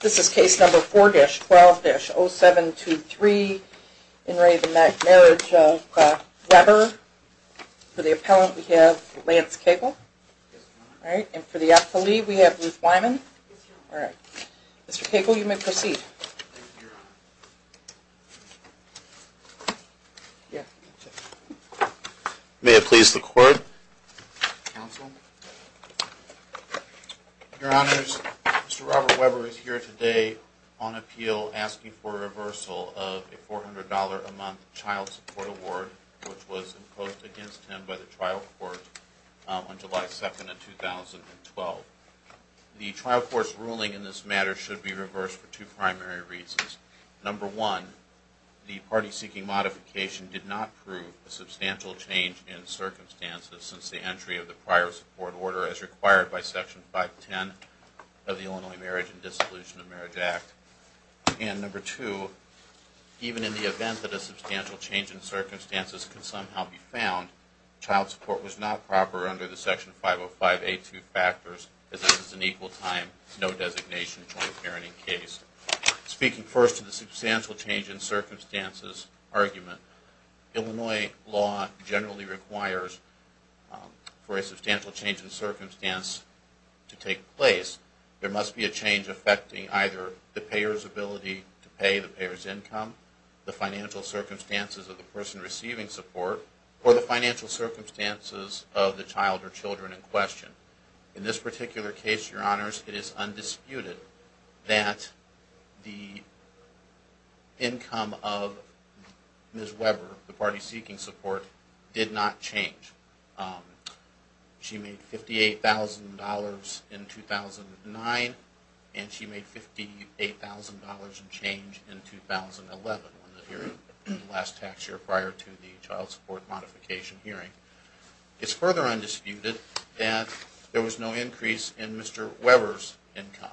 This is case number 4-12-0723 in re Marriage of Weber. For the appellant, we have Lance Cagle, and for the appellee, we have Ruth Wyman. Mr. Cagle, you may proceed. Thank you, Your Honor. May it please the Court? Counsel? Your Honors, Mr. Robert Weber is here today on appeal asking for a reversal of a $400 a month child support award which was imposed against him by the trial court on July 2nd of 2012. The trial court's ruling in this matter should be reversed for two primary reasons. Number one, the party seeking modification did not prove a substantial change in circumstances since the entry of the prior support order as required by Section 510 of the Illinois Marriage and Dissolution of Marriage Act. And number two, even in the event that a substantial change in circumstances can somehow be found, child support was not proper under the Section 505A2 factors as this is an equal time, no designation, joint parenting case. Speaking first to the substantial change in circumstances argument, Illinois law generally requires for a substantial change in circumstance to take place. There must be a change affecting either the payer's ability to pay, the payer's income, the financial circumstances of the person receiving support, or the financial circumstances of the child or children in question. In this particular case, Your Honors, it is undisputed that the income of Ms. Weber, the party seeking support, did not change. She made $58,000 in 2009 and she made $58,000 in change in 2011, the last tax year prior to the child support modification hearing. It is further undisputed that there was no increase in Mr. Weber's income.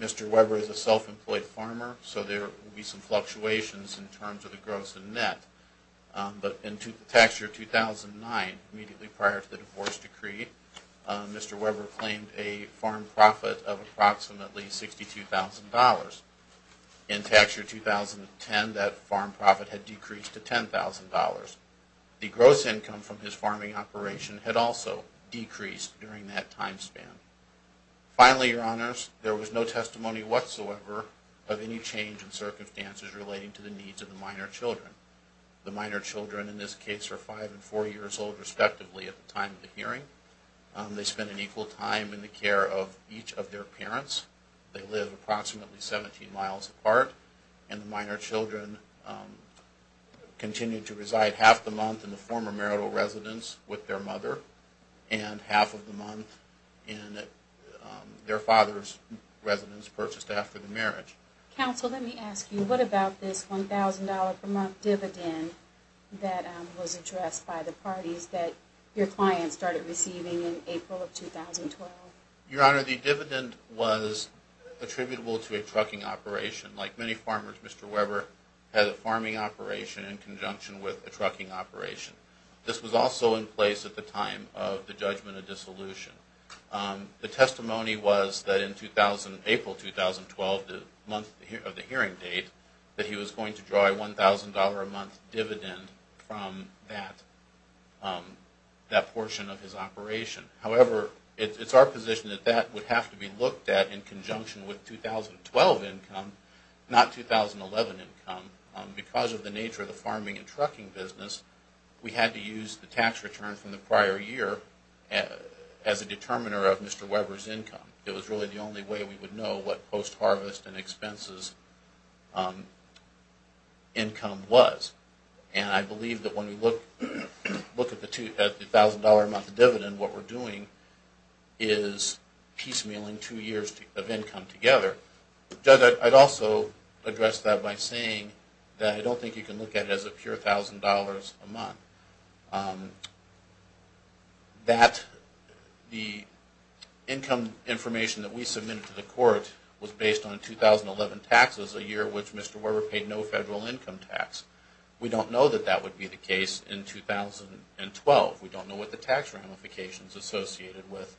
Mr. Weber is a self-employed farmer, so there will be some fluctuations in terms of the gross and net. But in tax year 2009, immediately prior to the divorce decree, Mr. Weber claimed a farm profit of approximately $62,000. In tax year 2010, that farm profit had decreased to $10,000. The gross income from his farming operation had also decreased during that time span. Finally, Your Honors, there was no testimony whatsoever of any change in circumstances relating to the needs of the minor children. The minor children in this case are 5 and 4 years old respectively at the time of the hearing. They spend an equal time in the care of each of their parents. They live approximately 17 miles apart and the minor children continue to reside half the month in the former marital residence with their mother and half of the month in their father's residence purchased after the marriage. Counsel, let me ask you, what about this $1,000 per month dividend that was addressed by the parties that your client started receiving in April of 2012? Your Honor, the dividend was attributable to a trucking operation. Like many farmers, Mr. Weber had a farming operation in conjunction with a trucking operation. This was also in place at the time of the judgment of dissolution. The testimony was that in April 2012, the month of the hearing date, that he was going to draw a $1,000 a month dividend from that portion of his operation. However, it's our position that that would have to be looked at in conjunction with 2012 income, not 2011 income. Because of the nature of the farming and trucking business, we had to use the tax return from the prior year as a determiner of Mr. Weber's income. It was really the only way we would know what post-harvest and expenses income was. And I believe that when we look at the $1,000 a month dividend, what we're doing is piecemealing two years of income together. Judge, I'd also address that by saying that I don't think you can look at it as a pure $1,000 a month. That the income information that we submitted to the court was based on 2011 taxes, a year in which Mr. Weber paid no federal income tax. We don't know that that would be the case in 2012. We don't know what the tax ramifications associated with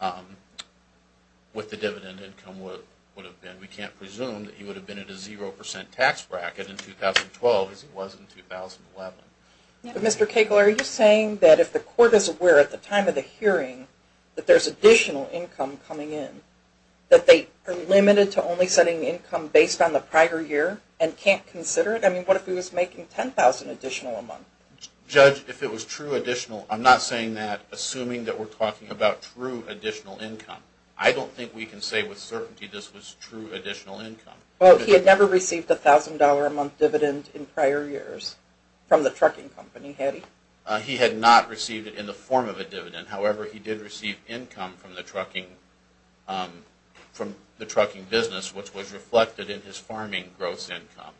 the dividend income would have been. We can't presume that he would have been at a 0% tax bracket in 2012 as he was in 2011. But Mr. Cagle, are you saying that if the court is aware at the time of the hearing that there's additional income coming in, that they are limited to only setting income based on the prior year and can't consider it? I mean, what if he was making $10,000 additional a month? Judge, if it was true additional, I'm not saying that assuming that we're talking about true additional income. I don't think we can say with certainty this was true additional income. Well, he had never received a $1,000 a month dividend in prior years from the trucking company, had he? He had not received it in the form of a dividend. However, he did receive income from the trucking business which was reflected in his farming gross income.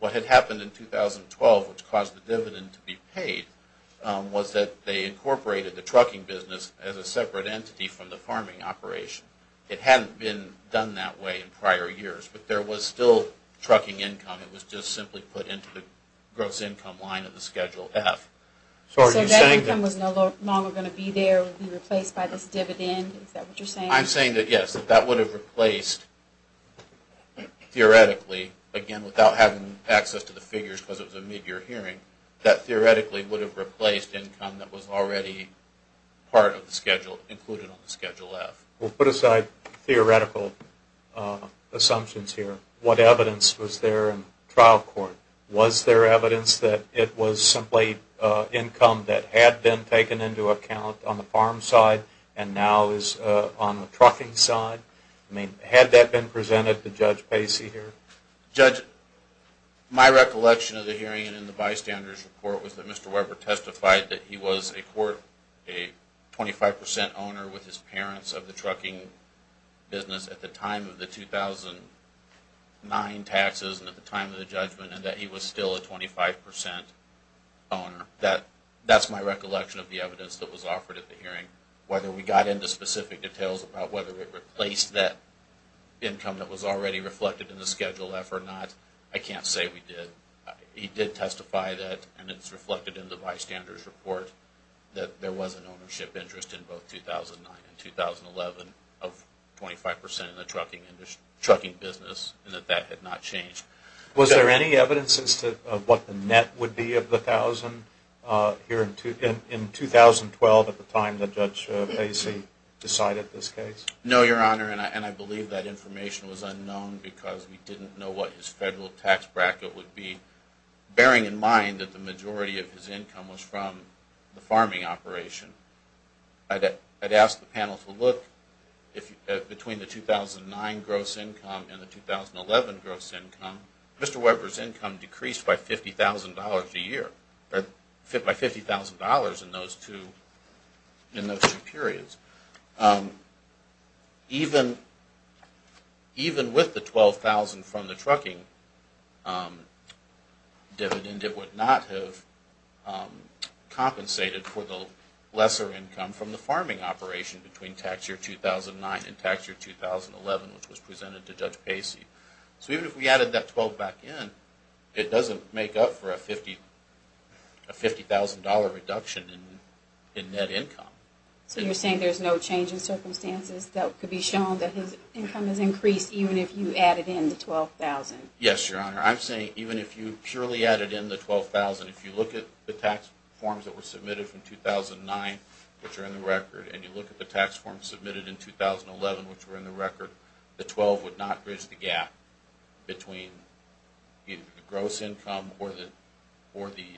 What had happened in 2012 which caused the dividend to be paid was that they incorporated the trucking business as a separate entity from the farming operation. It hadn't been done that way in prior years, but there was still trucking income. It was just simply put into the gross income line of the Schedule F. So are you saying that… So that income was no longer going to be there, replaced by this dividend? Is that what you're saying? I'm saying that yes, that would have replaced, theoretically, again without having access to the figures because it was a mid-year hearing, that theoretically would have replaced income that was already part of the Schedule, included on the Schedule F. We'll put aside theoretical assumptions here. What evidence was there in trial court? Was there evidence that it was simply income that had been taken into account on the farm side and now is on the trucking side? I mean, had that been presented to Judge Pacey here? Judge, my recollection of the hearing and the bystander's report was that Mr. Weber testified that he was a 25% owner with his parents of the trucking business at the time of the 2009 taxes and at the time of the judgment and that he was still a 25% owner. That's my recollection of the evidence that was offered at the hearing. Whether we got into specific details about whether it replaced that income that was already reflected in the Schedule F or not, I can't say we did. He did testify that, and it's reflected in the bystander's report, that there was an ownership interest in both 2009 and 2011 of 25% in the trucking business and that that had not changed. Was there any evidence as to what the net would be of the thousand here in 2012 at the time that Judge Pacey decided this case? No, Your Honor, and I believe that information was unknown because we didn't know what his federal tax bracket would be, bearing in mind that the majority of his income was from the farming operation. I'd ask the panel to look between the 2009 gross income and the 2011 gross income. Mr. Weber's income decreased by $50,000 a year, by $50,000 in those two periods. Even with the $12,000 from the trucking dividend, it would not have compensated for the lesser income from the farming operation between tax year 2009 and tax year 2011, which was presented to Judge Pacey. So even if we added that $12,000 back in, it doesn't make up for a $50,000 reduction in net income. So you're saying there's no change in circumstances that could be shown that his income has increased even if you added in the $12,000? Yes, Your Honor. I'm saying even if you purely added in the $12,000, if you look at the tax forms that were submitted from 2009, which are in the record, and you look at the tax forms submitted in 2011, which were in the record, the $12,000 would not bridge the gap between either the gross income or the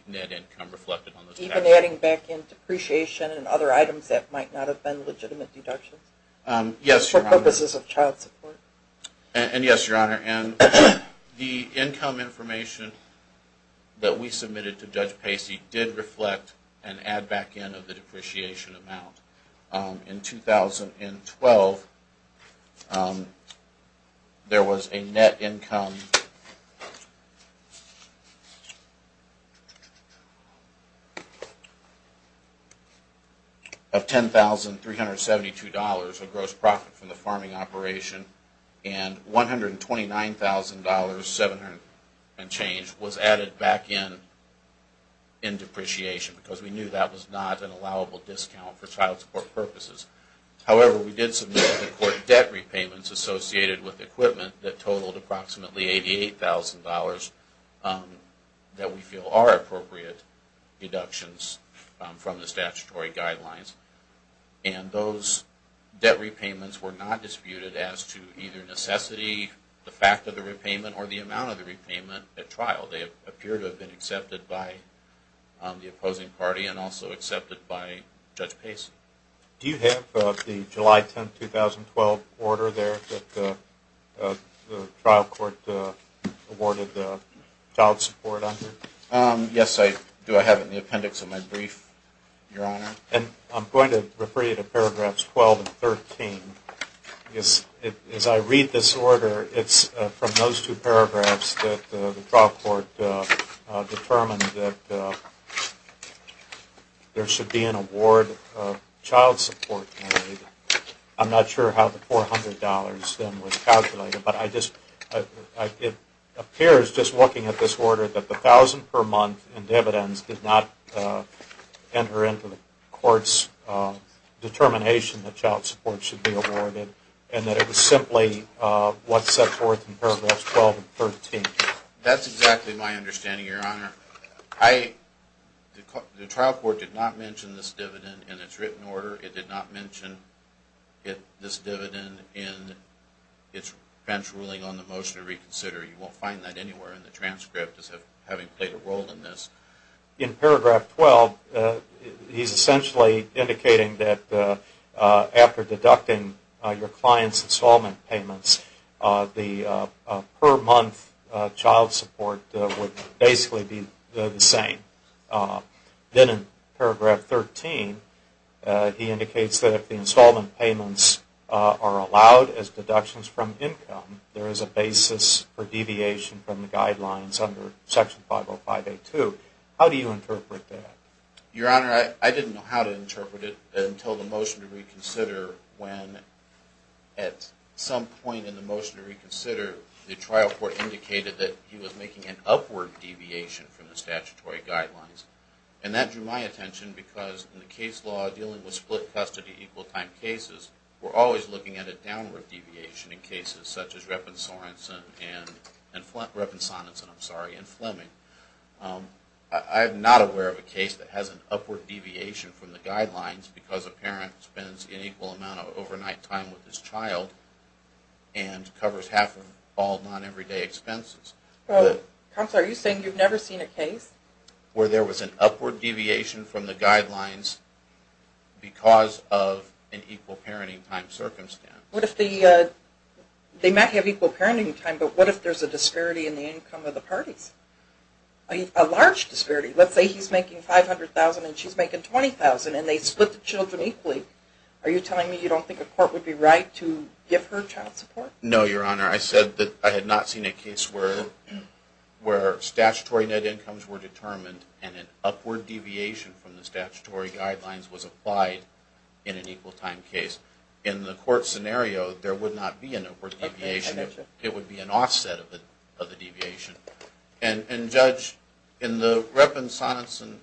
net income reflected on those taxes. Even adding back in depreciation and other items that might not have been legitimate deductions? Yes, Your Honor. For purposes of child support? And yes, Your Honor. And the income information that we submitted to Judge Pacey did reflect and add back in of the depreciation amount. In 2012, there was a net income of $10,372, a gross profit from the farming operation. And $129,700 and change was added back in depreciation because we knew that was not an allowable discount for child support purposes. However, we did submit to the court debt repayments associated with equipment that totaled approximately $88,000 that we feel are appropriate deductions from the statutory guidelines. And those debt repayments were not disputed as to either necessity, the fact of the repayment, or the amount of the repayment at trial. They appear to have been accepted by the opposing party and also accepted by Judge Pacey. Do you have the July 10, 2012 order there that the trial court awarded the child support under? Yes, I do. I have it in the appendix of my brief, Your Honor. And I'm going to refer you to paragraphs 12 and 13. As I read this order, it's from those two paragraphs that the trial court determined that there should be an award of child support. I'm not sure how the $400 then was calculated, but it appears just looking at this order that the $1,000 per month in dividends did not enter into the court's determination that child support should be awarded and that it was simply what's set forth in paragraphs 12 and 13. That's exactly my understanding, Your Honor. The trial court did not mention this dividend in its written order. It did not mention this dividend in its bench ruling on the motion to reconsider. You won't find that anywhere in the transcript as having played a role in this. In paragraph 12, he's essentially indicating that after deducting your client's installment payments, the per month child support would basically be the same. Then in paragraph 13, he indicates that if the installment payments are allowed as deductions from income, there is a basis for deviation from the guidelines under Section 505A2. How do you interpret that? Your Honor, I didn't know how to interpret it until the motion to reconsider when at some point in the motion to reconsider, the trial court indicated that he was making an upward deviation from the statutory guidelines. And that drew my attention because in the case law, dealing with split custody equal time cases, we're always looking at a downward deviation in cases such as Reppin-Sorensen and Fleming. I'm not aware of a case that has an upward deviation from the guidelines because a parent spends an equal amount of overnight time with his child and covers half of all non-everyday expenses. Counselor, are you saying you've never seen a case where there was an upward deviation from the guidelines because of an equal parenting time circumstance? They might have equal parenting time, but what if there's a disparity in the income of the parties? A large disparity. Let's say he's making $500,000 and she's making $20,000 and they split the children equally. Are you telling me you don't think a court would be right to give her child support? No, Your Honor. I said that I had not seen a case where statutory net incomes were determined and an upward deviation from the statutory guidelines was applied in an equal time case. In the court scenario, there would not be an upward deviation. It would be an offset of the deviation. And Judge, in the Reppin-Sorensen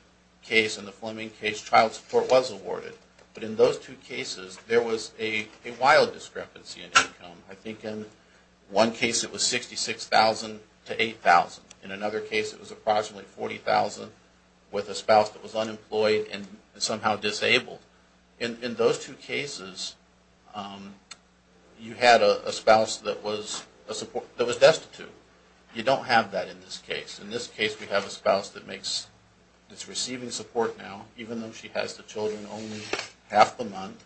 case and the Fleming case, child support was awarded, but in those two cases there was a wild discrepancy in income. I think in one case it was $66,000 to $8,000. In another case it was approximately $40,000 with a spouse that was unemployed and somehow disabled. In those two cases, you had a spouse that was destitute. You don't have that in this case. In this case, we have a spouse that's receiving support now, even though she has the children only half the month,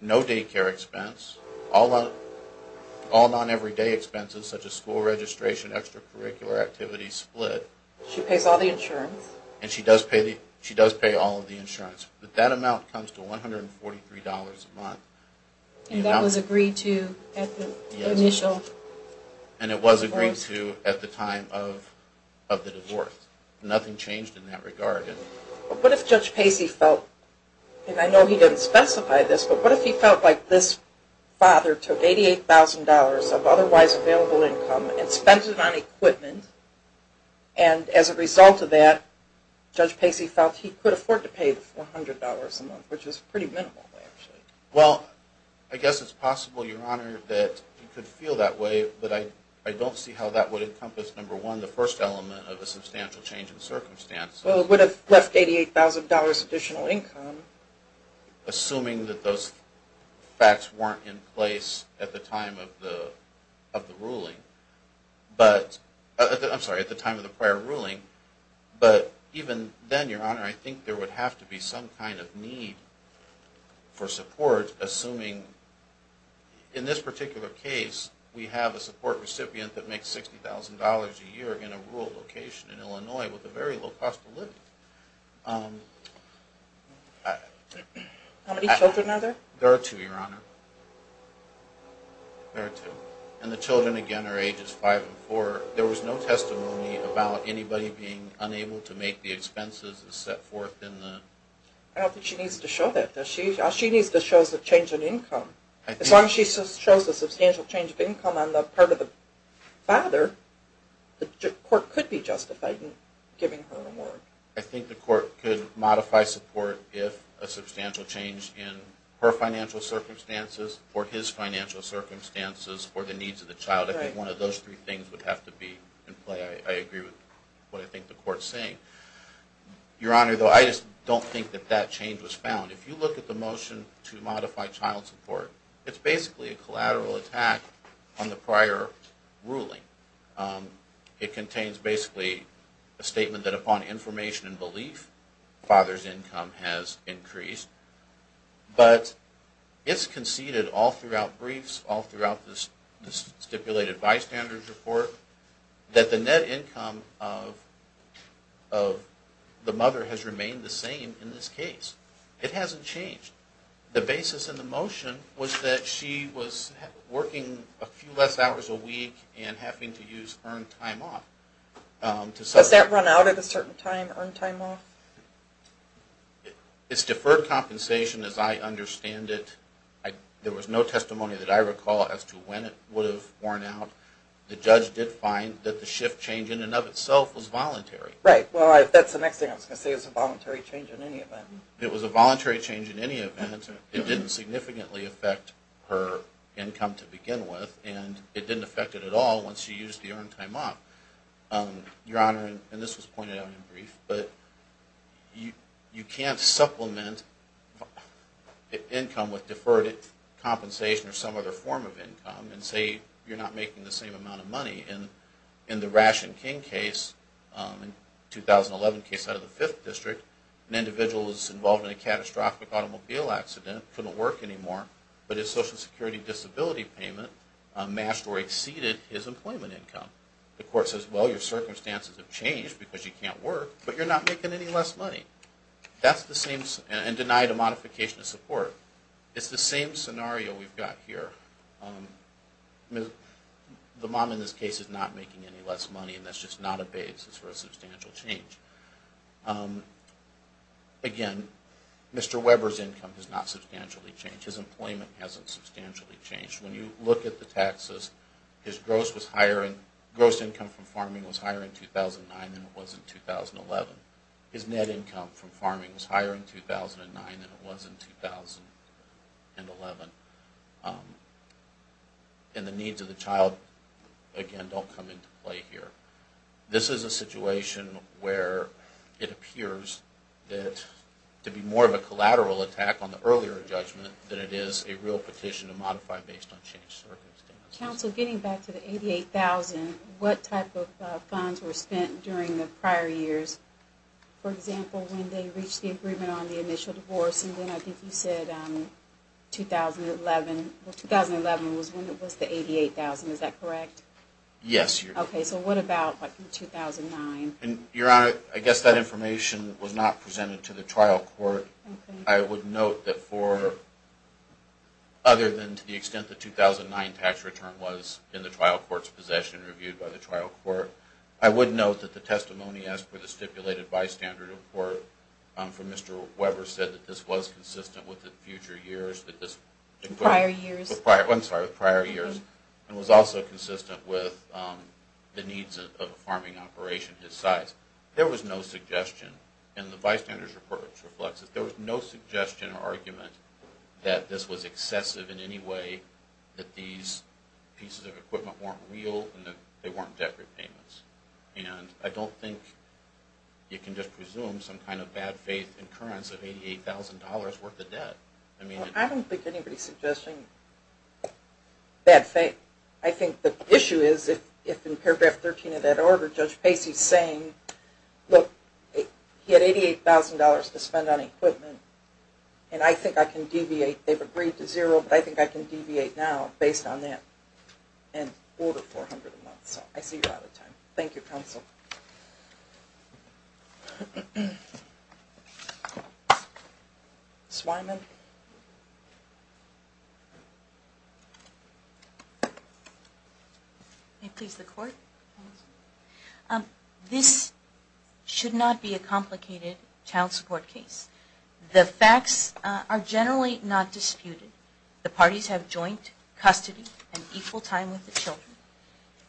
no daycare expense, all non-everyday expenses such as school registration, extracurricular activities split. She pays all the insurance? And she does pay all of the insurance. But that amount comes to $143 a month. And that was agreed to at the initial divorce? And it was agreed to at the time of the divorce. Nothing changed in that regard. But what if Judge Pacey felt, and I know he didn't specify this, but what if he felt like this father took $88,000 of otherwise available income and spent it on equipment, and as a result of that, Judge Pacey felt he could afford to pay $400 a month, which is pretty minimal. Well, I guess it's possible, Your Honor, that he could feel that way, but I don't see how that would encompass, number one, the first element of a substantial change in circumstances. Well, it would have left $88,000 additional income. Assuming that those facts weren't in place at the time of the ruling. I'm sorry, at the time of the prior ruling. But even then, Your Honor, I think there would have to be some kind of need for support, assuming, in this particular case, we have a support recipient that makes $60,000 a year in a rural location in Illinois with a very low cost of living. How many children are there? There are two, Your Honor. There are two. And the children, again, are ages five and four. There was no testimony about anybody being unable to make the expenses as set forth in the… I don't think she needs to show that. She needs to show the change in income. As long as she shows a substantial change of income on the part of the father, the court could be justified in giving her a reward. I think the court could modify support if a substantial change in her financial circumstances or his financial circumstances or the needs of the child. I think one of those three things would have to be in play. I agree with what I think the court is saying. Your Honor, though, I just don't think that that change was found. If you look at the motion to modify child support, it's basically a collateral attack on the prior ruling. It contains basically a statement that upon information and belief, father's income has increased. But it's conceded all throughout briefs, all throughout this stipulated bystander's report, that the net income of the mother has remained the same in this case. It hasn't changed. The basis in the motion was that she was working a few less hours a week and having to use earned time off. Does that run out at a certain time, earned time off? It's deferred compensation as I understand it. There was no testimony that I recall as to when it would have worn out. The judge did find that the shift change in and of itself was voluntary. Right. Well, that's the next thing I was going to say. It was a voluntary change in any event. It was a voluntary change in any event. It didn't significantly affect her income to begin with, and it didn't affect it at all once she used the earned time off. Your Honor, and this was pointed out in brief, but you can't supplement income with deferred compensation or some other form of income and say you're not making the same amount of money. In the Ration King case, 2011 case out of the 5th District, an individual was involved in a catastrophic automobile accident, couldn't work anymore, but his Social Security disability payment matched or exceeded his employment income. The court says, well, your circumstances have changed because you can't work, but you're not making any less money, and denied a modification of support. It's the same scenario we've got here. The mom in this case is not making any less money, and that's just not a basis for a substantial change. Again, Mr. Weber's income has not substantially changed. His employment hasn't substantially changed. When you look at the taxes, his gross income from farming was higher in 2009 than it was in 2011. His net income from farming was higher in 2009 than it was in 2011. And the needs of the child, again, don't come into play here. This is a situation where it appears to be more of a collateral attack on the earlier judgment than it is a real petition to modify based on changed circumstances. Counsel, getting back to the $88,000, what type of funds were spent during the prior years? For example, when they reached the agreement on the initial divorce, and then I think you said 2011. Well, 2011 was when it was the $88,000. Is that correct? Yes, Your Honor. Okay, so what about 2009? Your Honor, I guess that information was not presented to the trial court. I would note that for, other than to the extent the 2009 tax return was in the trial court's possession, reviewed by the trial court, I would note that the testimony as per the stipulated bystander report from Mr. Weber said that this was consistent with the future years. Prior years. I'm sorry, with prior years, and was also consistent with the needs of a farming operation his size. There was no suggestion, and the bystander's report reflects it. There was no suggestion or argument that this was excessive in any way, that these pieces of equipment weren't real, and that they weren't debt repayments. And I don't think you can just presume some kind of bad faith incurrence of $88,000 worth of debt. I don't think anybody's suggesting bad faith. I think the issue is if in paragraph 13 of that order, Judge Pacey's saying, look, he had $88,000 to spend on equipment, and I think I can deviate, they've agreed to zero, but I think I can deviate now based on that, and order $400 a month. So I see you're out of time. Thank you, counsel. Ms. Wyman. May it please the Court? This should not be a complicated child support case. The facts are generally not disputed. The parties have joint custody and equal time with the children.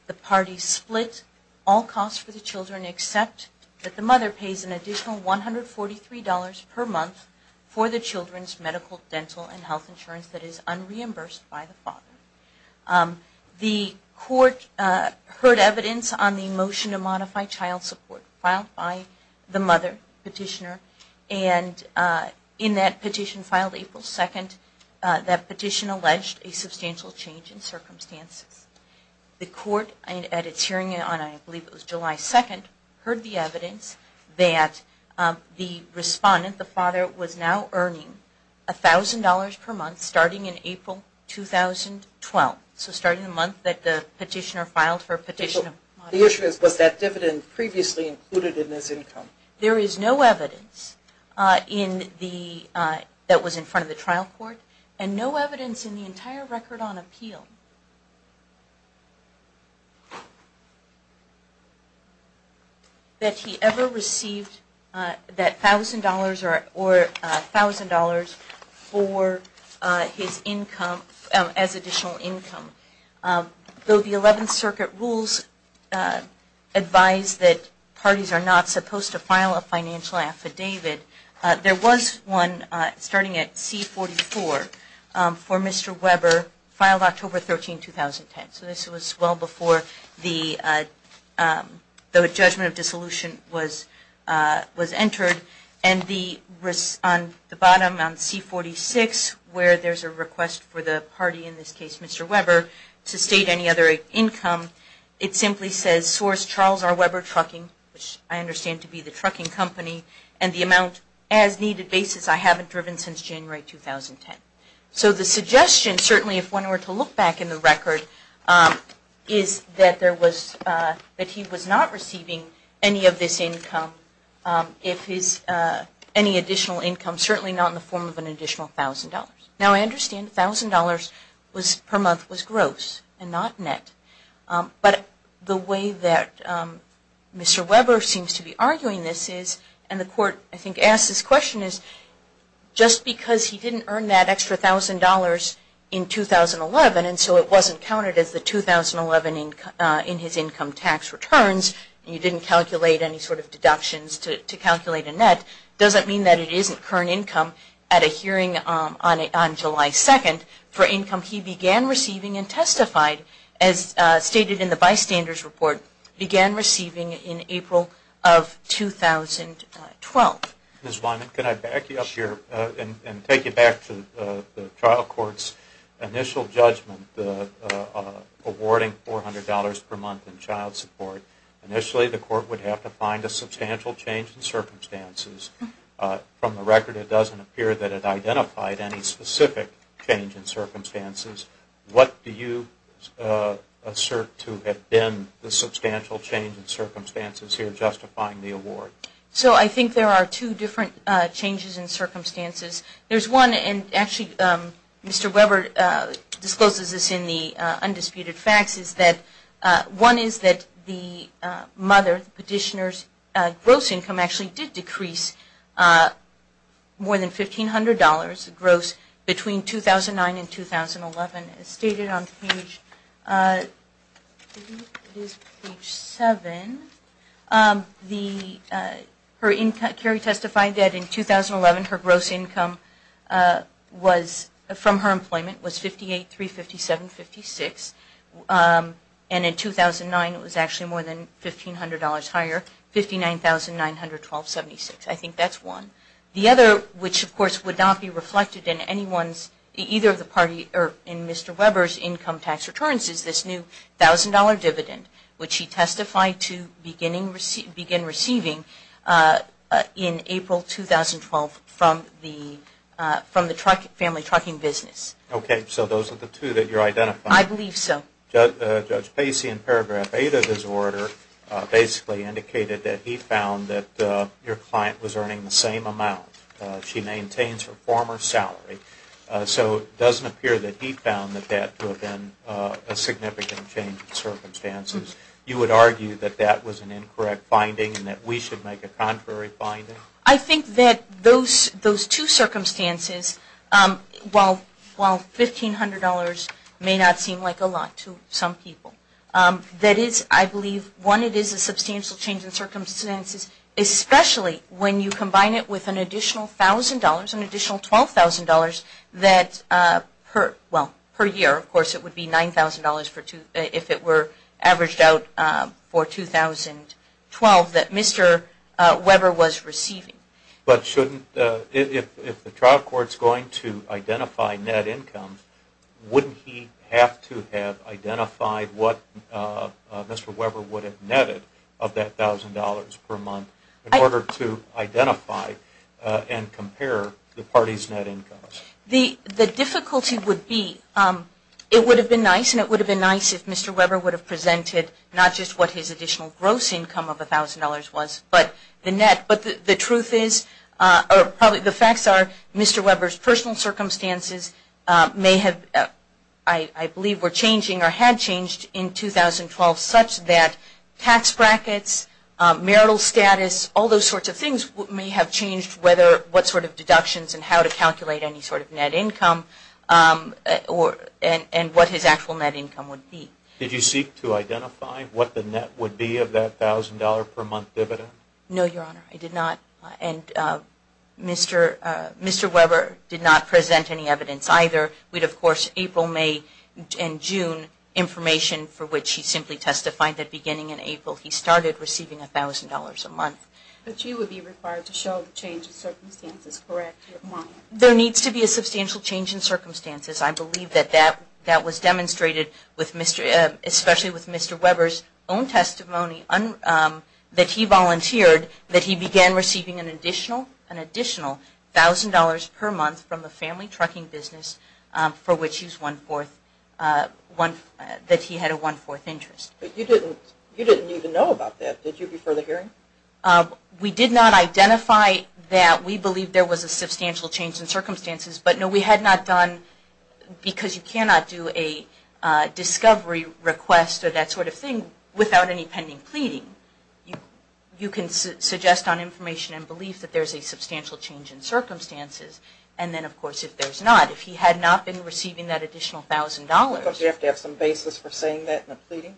The parties split all costs for the children except that the mother pays an additional $143 per month for the children's medical, dental, and health insurance that is unreimbursed by the father. The Court heard evidence on the motion to modify child support filed by the mother petitioner, and in that petition filed April 2nd, that petition alleged a substantial change in circumstances. The Court, at its hearing on I believe it was July 2nd, heard the evidence that the respondent, the father, was now earning $1,000 per month starting in April 2012. So starting the month that the petitioner filed for a petition. The issue is, was that dividend previously included in this income? There is no evidence that was in front of the trial court and no evidence in the entire record on appeal that he ever received that $1,000 or $1,000 for his income as additional income. Though the 11th Circuit rules advise that parties are not supposed to file a financial affidavit, there was one starting at C44 for Mr. Weber filed October 13, 2010. So this was well before the judgment of dissolution was entered. And the bottom on C46 where there is a request for the party, in this case Mr. Weber, to state any other income, it simply says source Charles R. Weber Trucking, which I understand to be the trucking company, and the amount as needed basis I haven't driven since January 2010. So the suggestion, certainly if one were to look back in the record, is that he was not receiving any of this income, any additional income, certainly not in the form of an additional $1,000. Now I understand $1,000 per month was gross and not net. But the way that Mr. Weber seems to be arguing this is, and the court I think asked this question, is just because he didn't earn that extra $1,000 in 2011 and so it wasn't counted as the 2011 in his income tax returns, and you didn't calculate any sort of deductions to calculate a net, doesn't mean that it isn't current income at a hearing on July 2nd for income he began receiving and testified. As stated in the bystander's report, began receiving in April of 2012. Ms. Wyman, can I back you up here and take you back to the trial court's initial judgment awarding $400 per month in child support. Initially the court would have to find a substantial change in circumstances. From the record it doesn't appear that it identified any specific change in circumstances. What do you assert to have been the substantial change in circumstances here justifying the award? So I think there are two different changes in circumstances. There's one, and actually Mr. Weber discloses this in the undisputed facts, is that one is that the mother, the petitioner's gross income actually did decrease more than $1,500 gross between 2009 and 2011. As stated on page 7, Carrie testified that in 2011 her gross income from her employment was $58,357.56 and in 2009 it was actually more than $1,500 higher, $59,912.76. I think that's one. The other, which of course would not be reflected in Mr. Weber's income tax returns, is this new $1,000 dividend, which he testified to begin receiving in April 2012 from the family trucking business. Okay, so those are the two that you're identifying. I believe so. Judge Pacey in paragraph 8 of his order basically indicated that he found that your client was earning the same amount. She maintains her former salary. So it doesn't appear that he found that to have been a significant change in circumstances. You would argue that that was an incorrect finding and that we should make a contrary finding? I think that those two circumstances, while $1,500 may not seem like a lot to some people, that is, I believe, one, it is a substantial change in circumstances, especially when you combine it with an additional $1,000, an additional $12,000 that per year, of course it would be $9,000 if it were averaged out for 2012 that Mr. Weber was receiving. But if the trial court is going to identify net income, wouldn't he have to have identified what Mr. Weber would have netted of that $1,000 per month in order to identify and compare the party's net income? The difficulty would be, it would have been nice and it would have been nice if Mr. Weber would have presented not just what his additional gross income of $1,000 was but the net. But the truth is, or probably the facts are, Mr. Weber's personal circumstances may have, I believe, were changing or had changed in 2012 such that tax brackets, marital status, all those sorts of things may have changed what sort of deductions and how to calculate any sort of net income and what his actual net income would be. Did you seek to identify what the net would be of that $1,000 per month dividend? No, Your Honor. I did not. And Mr. Weber did not present any evidence either. We had, of course, April, May, and June information for which he simply testified that beginning in April he started receiving $1,000 a month. But you would be required to show the change of circumstances, correct? There needs to be a substantial change in circumstances. I believe that that was demonstrated especially with Mr. Weber's own testimony that he volunteered that he began receiving an additional $1,000 per month from the family trucking business for which he had a one-fourth interest. But you didn't even know about that. Did you before the hearing? We did not identify that. We believe there was a substantial change in circumstances. But no, we had not done, because you cannot do a discovery request or that sort of thing without any pending pleading. You can suggest on information and belief that there is a substantial change in circumstances. And then, of course, if there is not, if he had not been receiving that additional $1,000. Don't you have to have some basis for saying that in a pleading?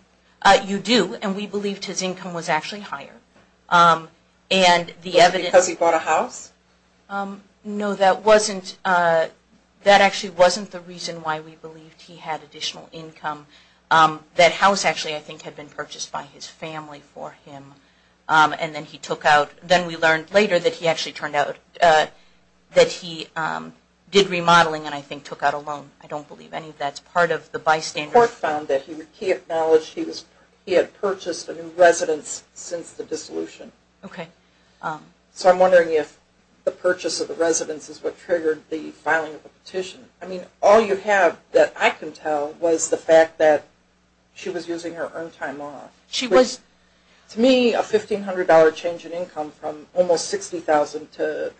You do. And we believed his income was actually higher. Was it because he bought a house? No, that actually wasn't the reason why we believed he had additional income. That house actually, I think, had been purchased by his family for him. And then he took out, then we learned later that he actually turned out that he did remodeling and I think took out a loan. I don't believe any of that's part of the bystanders. The court found that he acknowledged he had purchased a new residence since the dissolution. Okay. So I'm wondering if the purchase of the residence is what triggered the filing of the petition. I mean, all you have that I can tell was the fact that she was using her earned time off. She was. To me, a $1,500 change in income from almost $60,000 to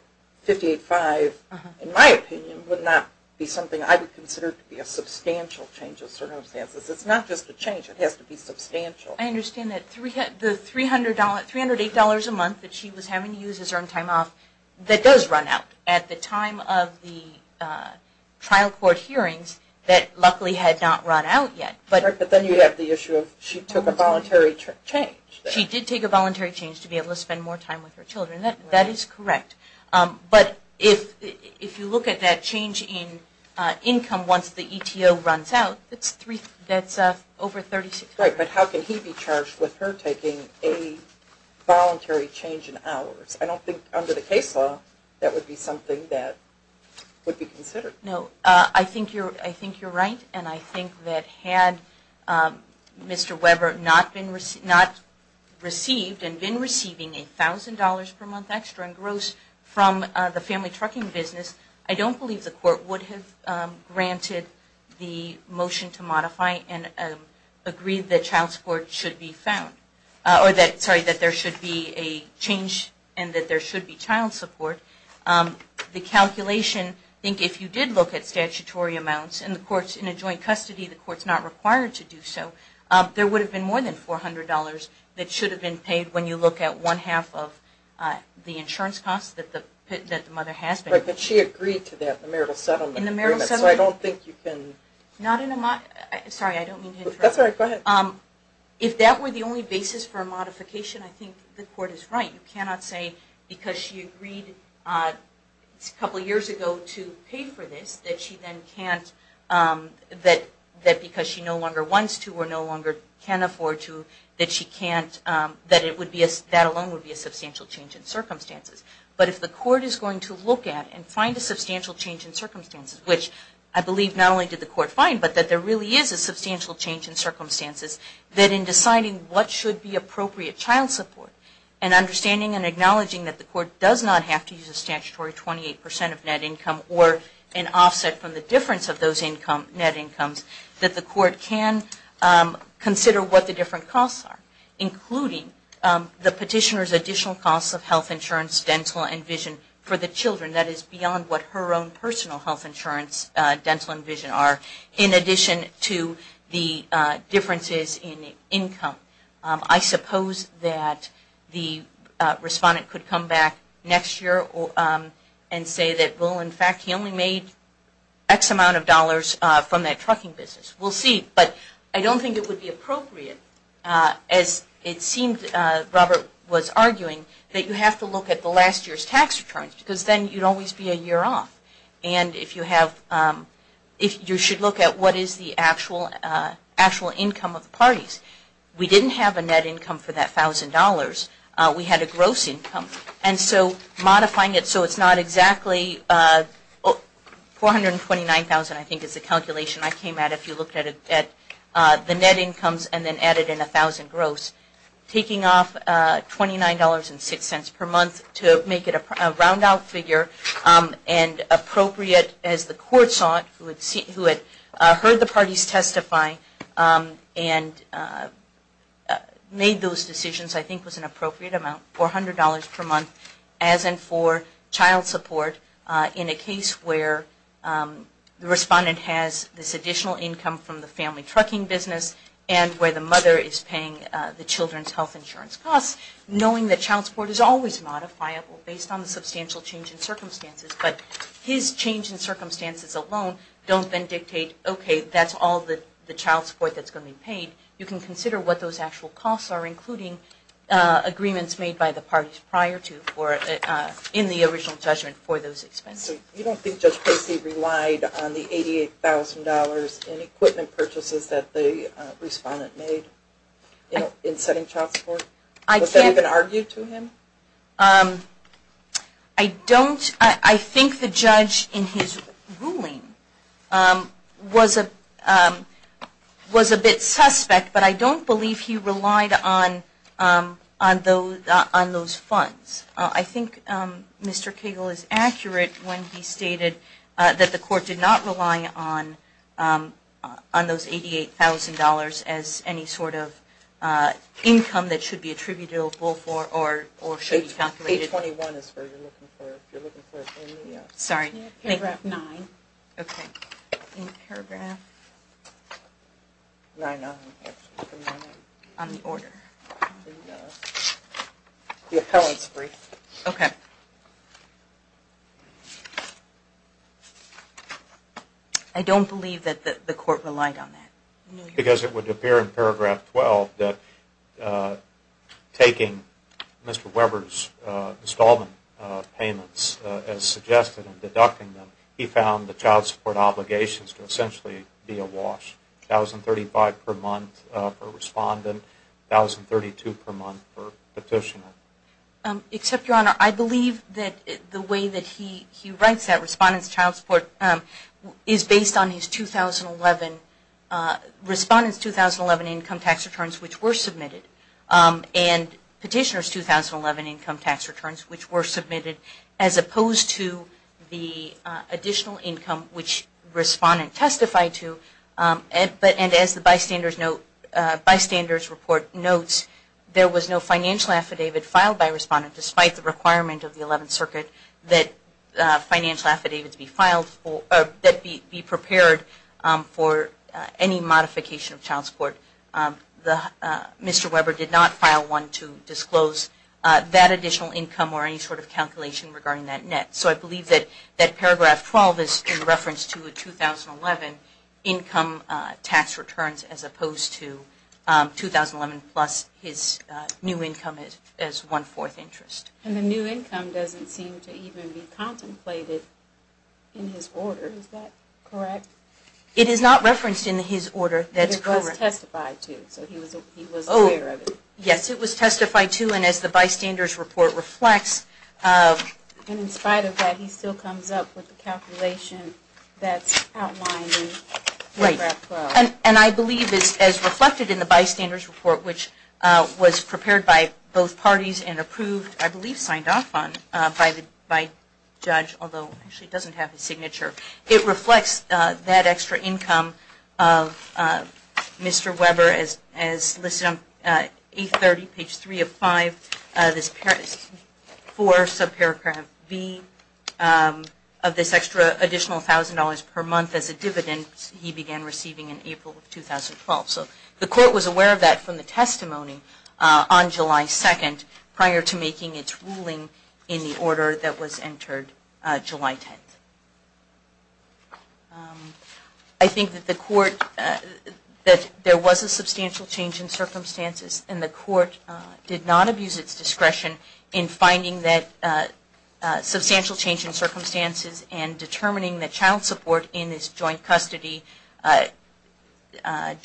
$58,500, in my opinion, would not be something I would consider to be a substantial change in circumstances. It's not just a change. It has to be substantial. I understand that the $308 a month that she was having to use her earned time off, that does run out at the time of the trial court hearings that luckily had not run out yet. But then you have the issue of she took a voluntary change. She did take a voluntary change to be able to spend more time with her children. That is correct. But if you look at that change in income once the ETO runs out, that's over $36,000. Right. But how can he be charged with her taking a voluntary change in hours? I don't think under the case law that would be something that would be considered. No. I think you're right. And I think that had Mr. Weber not received and been receiving $1,000 per month extra in gross from the family trucking business, I don't believe the court would have granted the motion to modify and agreed that child support should be found. Sorry, that there should be a change and that there should be child support. The calculation, I think if you did look at statutory amounts and the court's in a joint custody, the court's not required to do so, there would have been more than $400 that should have been paid when you look at one half of the insurance costs that the mother has been paid. Right. But she agreed to that in the marital settlement agreement. In the marital settlement? So I don't think you can... Sorry, I don't mean to interrupt. That's all right. Go ahead. If that were the only basis for a modification, I think the court is right. You cannot say because she agreed a couple years ago to pay for this that because she no longer wants to or no longer can afford to, that alone would be a substantial change in circumstances. But if the court is going to look at and find a substantial change in circumstances, which I believe not only did the court find, but that there really is a substantial change in circumstances, that in deciding what should be appropriate child support and understanding and acknowledging that the court does not have to use a statutory 28% of net income or an offset from the difference of those net incomes, that the court can consider what the different costs are, including the petitioner's additional costs of health insurance, dental and vision for the children. That is beyond what her own personal health insurance, dental and vision are, in addition to the differences in income. I suppose that the respondent could come back next year and say that, well, in fact, he only made X amount of dollars from that trucking business. We'll see. But I don't think it would be appropriate, as it seemed Robert was arguing, that you have to look at the last year's tax returns because then you'd always be a year off. And you should look at what is the actual income of the parties. We didn't have a net income for that $1,000. We had a gross income. And so modifying it so it's not exactly $429,000, I think is the calculation I came at if you looked at the net incomes and then added in $1,000 gross. Taking off $29.06 per month to make it a round out figure and appropriate, as the court saw it, who had heard the parties testify and made those decisions, I think was an appropriate amount, $400 per month as in for child support in a case where the respondent has this additional income from the family trucking business and where the mother is paying the children's health insurance costs, knowing that child support is always modifiable based on the substantial change in circumstances. But his change in circumstances alone don't then dictate, okay, that's all the child support that's going to be paid. You can consider what those actual costs are, including agreements made by the parties prior to or in the original judgment for those expenses. You don't think Judge Casey relied on the $88,000 in equipment purchases that the respondent made in setting child support? Was that even argued to him? I don't. I think the judge in his ruling was a bit suspect, but I don't believe he relied on those funds. I think Mr. Cagle is accurate when he stated that the court did not rely on those $88,000 as any sort of income that should be calculated. I don't believe that the court relied on that. Because it would appear in paragraph 12 that taking Mr. Weber's installment payments as suggested and deducting them, he found the child support obligations to essentially be a wash, $1,035 per month for respondent, $1,032 per month for petitioner. Except, Your Honor, I believe that the way that he writes that respondent's child support is based on his 2011, respondent's 2011 income tax returns which were submitted, and petitioner's 2011 income tax returns which were submitted, as opposed to the additional income which respondent testified to. And as the bystander's report notes, there was no financial affidavit filed by respondent despite the requirement of the 11th Circuit that financial affidavits be prepared for any modification of child support. Mr. Weber did not file one to disclose that additional income or any sort of calculation regarding that net. So I believe that paragraph 12 is in reference to a 2011 income tax returns as opposed to 2011 plus his new income as one-fourth interest. And the new income doesn't seem to even be contemplated in his order. Is that correct? It is not referenced in his order. It was testified to, so he was aware of it. Yes, it was testified to. And as the bystander's report reflects, And in spite of that, he still comes up with the calculation that's outlined in paragraph 12. Right. And I believe as reflected in the bystander's report, which was prepared by both parties and approved, I believe signed off on, by judge, although actually it doesn't have his signature, it reflects that extra income of Mr. Weber as listed on page 830, page 3 of 5, for subparagraph B of this extra additional $1,000 per month as a dividend he began receiving in April of 2012. So the court was aware of that from the testimony on July 2nd prior to making its ruling in the order that was entered July 10th. I think that the court, that there was a substantial change in circumstances, and the court did not abuse its discretion in finding that substantial change in circumstances and determining that child support in this joint custody case, that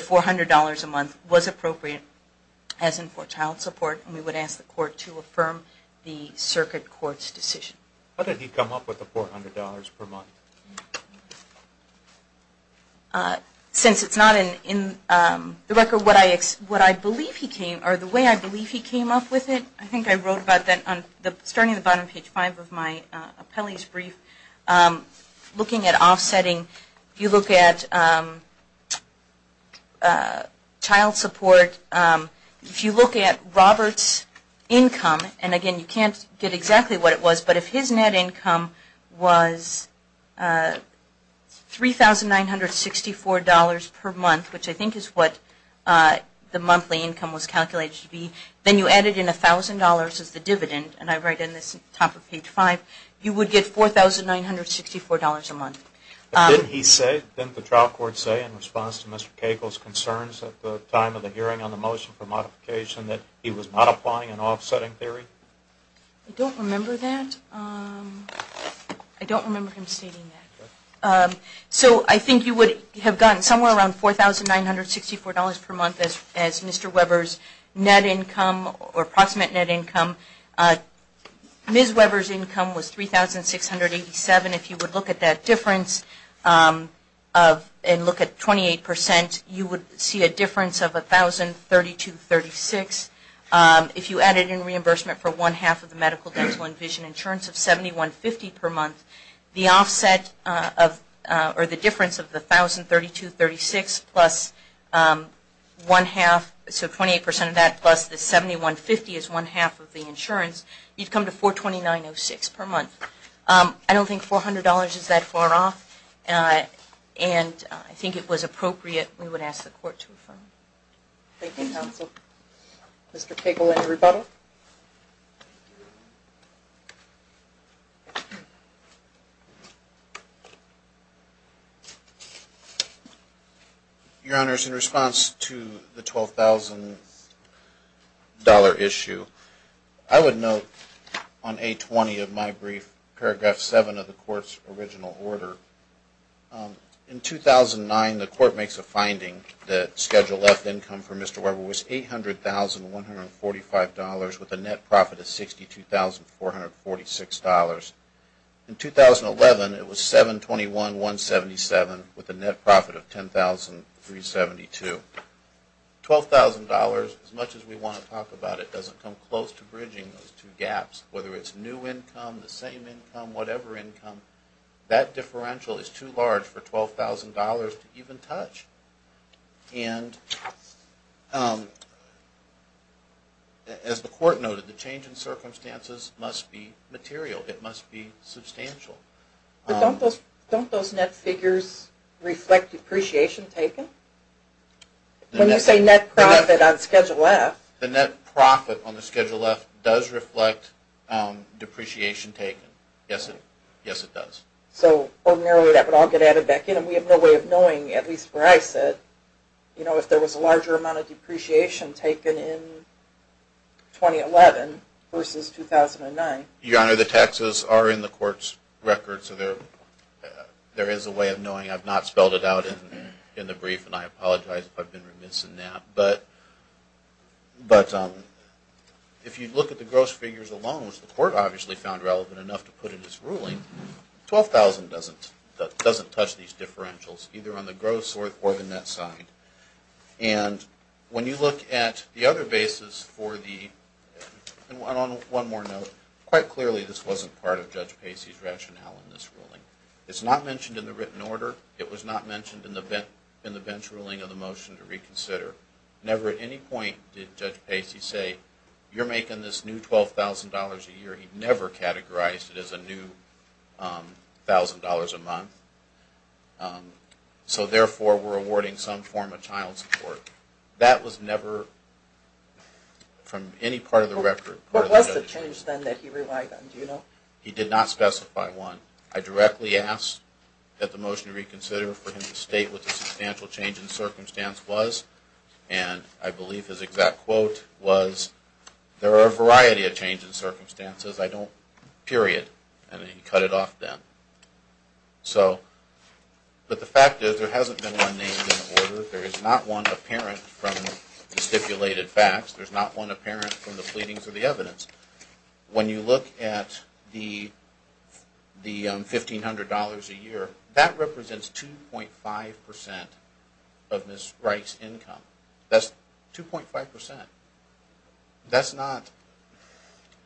$400 a month was appropriate as in for child support. And we would ask the court to affirm the circuit court's decision. Why did he come up with the $400 per month? Since it's not in the record, what I believe he came, or the way I believe he came up with it, I think I wrote about that starting at the bottom of page 5 of my appellee's brief, looking at offsetting, if you look at child support, if you look at Robert's income, and again you can't get exactly what it was, but if his net income was $3,964 per month, which I think is what the monthly income was calculated to be, then you added in $1,000 as the dividend, and I write in the top of page 5, you would get $4,964 a month. Didn't he say, didn't the trial court say in response to Mr. Cagle's concerns at the time of the hearing on the motion for modification that he was not applying an offsetting theory? I don't remember that. I don't remember him stating that. So I think you would have gotten somewhere around $4,964 per month as Mr. Weber's net income or approximate net income. Ms. Weber's income was $3,687. If you would look at that difference and look at 28%, you would see a difference of $1,032.36. If you added in reimbursement for one-half of the medical dental and vision insurance of $71.50 per month, the difference of the $1,032.36 plus one-half, so 28% of that plus the $71.50 is one-half of the insurance, you'd come to $4,2906 per month. I don't think $400 is that far off, and I think it was appropriate we would ask the court to affirm. Thank you, counsel. Mr. Cagle, any rebuttal? Your Honors, in response to the $12,000 issue, I would note on A20 of my brief, paragraph 7 of the court's original order, in 2009, the court makes a finding that Schedule F income for Mr. Weber was $800,145 with a net profit of $62,446. In 2011, it was $721,177 with a net profit of $10,372. $12,000, as much as we want to talk about it, doesn't come close to bridging those two gaps. Whether it's new income, the same income, whatever income, that differential is too large for $12,000 to even touch. And as the court noted, the change in circumstances must be material. It must be substantial. Don't those net figures reflect depreciation taken? When you say net profit on Schedule F. The net profit on Schedule F does reflect depreciation taken. Yes, it does. So ordinarily that would all get added back in and we have no way of knowing, at least where I sit, if there was a larger amount of depreciation taken in 2011 versus 2009. Your Honor, the taxes are in the court's record, so there is a way of knowing. I've not spelled it out in the brief and I apologize if I've been remiss in that. But if you look at the gross figures alone, which the court obviously found relevant enough to put in its ruling, $12,000 doesn't touch these differentials, either on the gross or the net side. And when you look at the other basis for the – and on one more note, quite clearly this wasn't part of Judge Pacey's rationale in this ruling. It's not mentioned in the written order. It was not mentioned in the bench ruling of the motion to reconsider. Never at any point did Judge Pacey say, you're making this new $12,000 a year. He never categorized it as a new $1,000 a month. So therefore, we're awarding some form of child support. That was never from any part of the record. What was the change then that he relied on? Do you know? He did not specify one. I directly asked that the motion to reconsider for him to state what the substantial change in circumstance was. And I believe his exact quote was, there are a variety of changes in circumstances. I don't – period. And then he cut it off then. So – but the fact is there hasn't been one named in the order. There is not one apparent from the stipulated facts. There's not one apparent from the pleadings of the evidence. When you look at the $1,500 a year, that represents 2.5% of Ms. Reich's income. That's 2.5%. That's not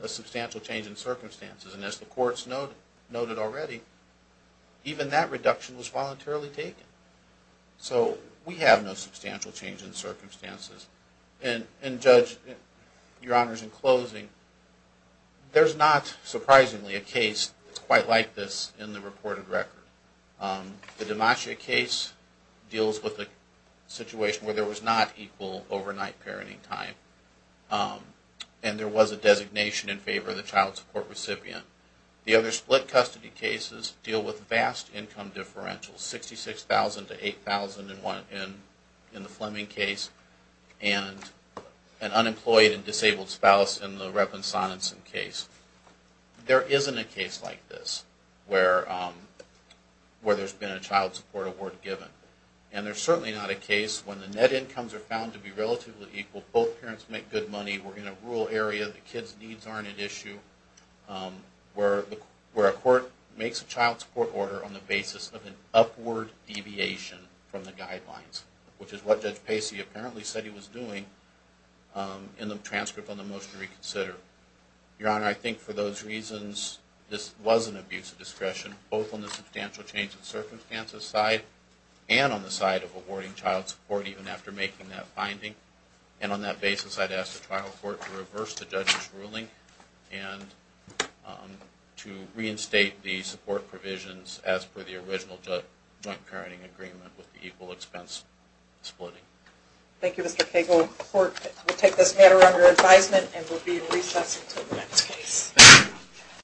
a substantial change in circumstances. And as the courts noted already, even that reduction was voluntarily taken. So we have no substantial change in circumstances. And Judge, Your Honors, in closing, there's not surprisingly a case that's quite like this in the reported record. The Demacia case deals with a situation where there was not equal overnight parenting time. And there was a designation in favor of the child support recipient. The other split custody cases deal with vast income differentials, $66,000 to $8,000 in the Fleming case. And an unemployed and disabled spouse in the Revlin-Sonenson case. There isn't a case like this where there's been a child support award given. And there's certainly not a case when the net incomes are found to be relatively equal, both parents make good money, we're in a rural area, the kids' needs aren't an issue, where a court makes a child support order on the basis of an upward deviation from the guidelines. Which is what Judge Pacey apparently said he was doing in the transcript on the motion to reconsider. Your Honor, I think for those reasons, this was an abuse of discretion, both on the substantial change in circumstances side and on the side of awarding child support even after making that finding. And on that basis, I'd ask the trial court to reverse the judge's ruling and to reinstate the support provisions as per the original joint parenting agreement with the equal expense splitting. Thank you, Mr. Cagle. The court will take this matter under advisement and will be in recess until the next case.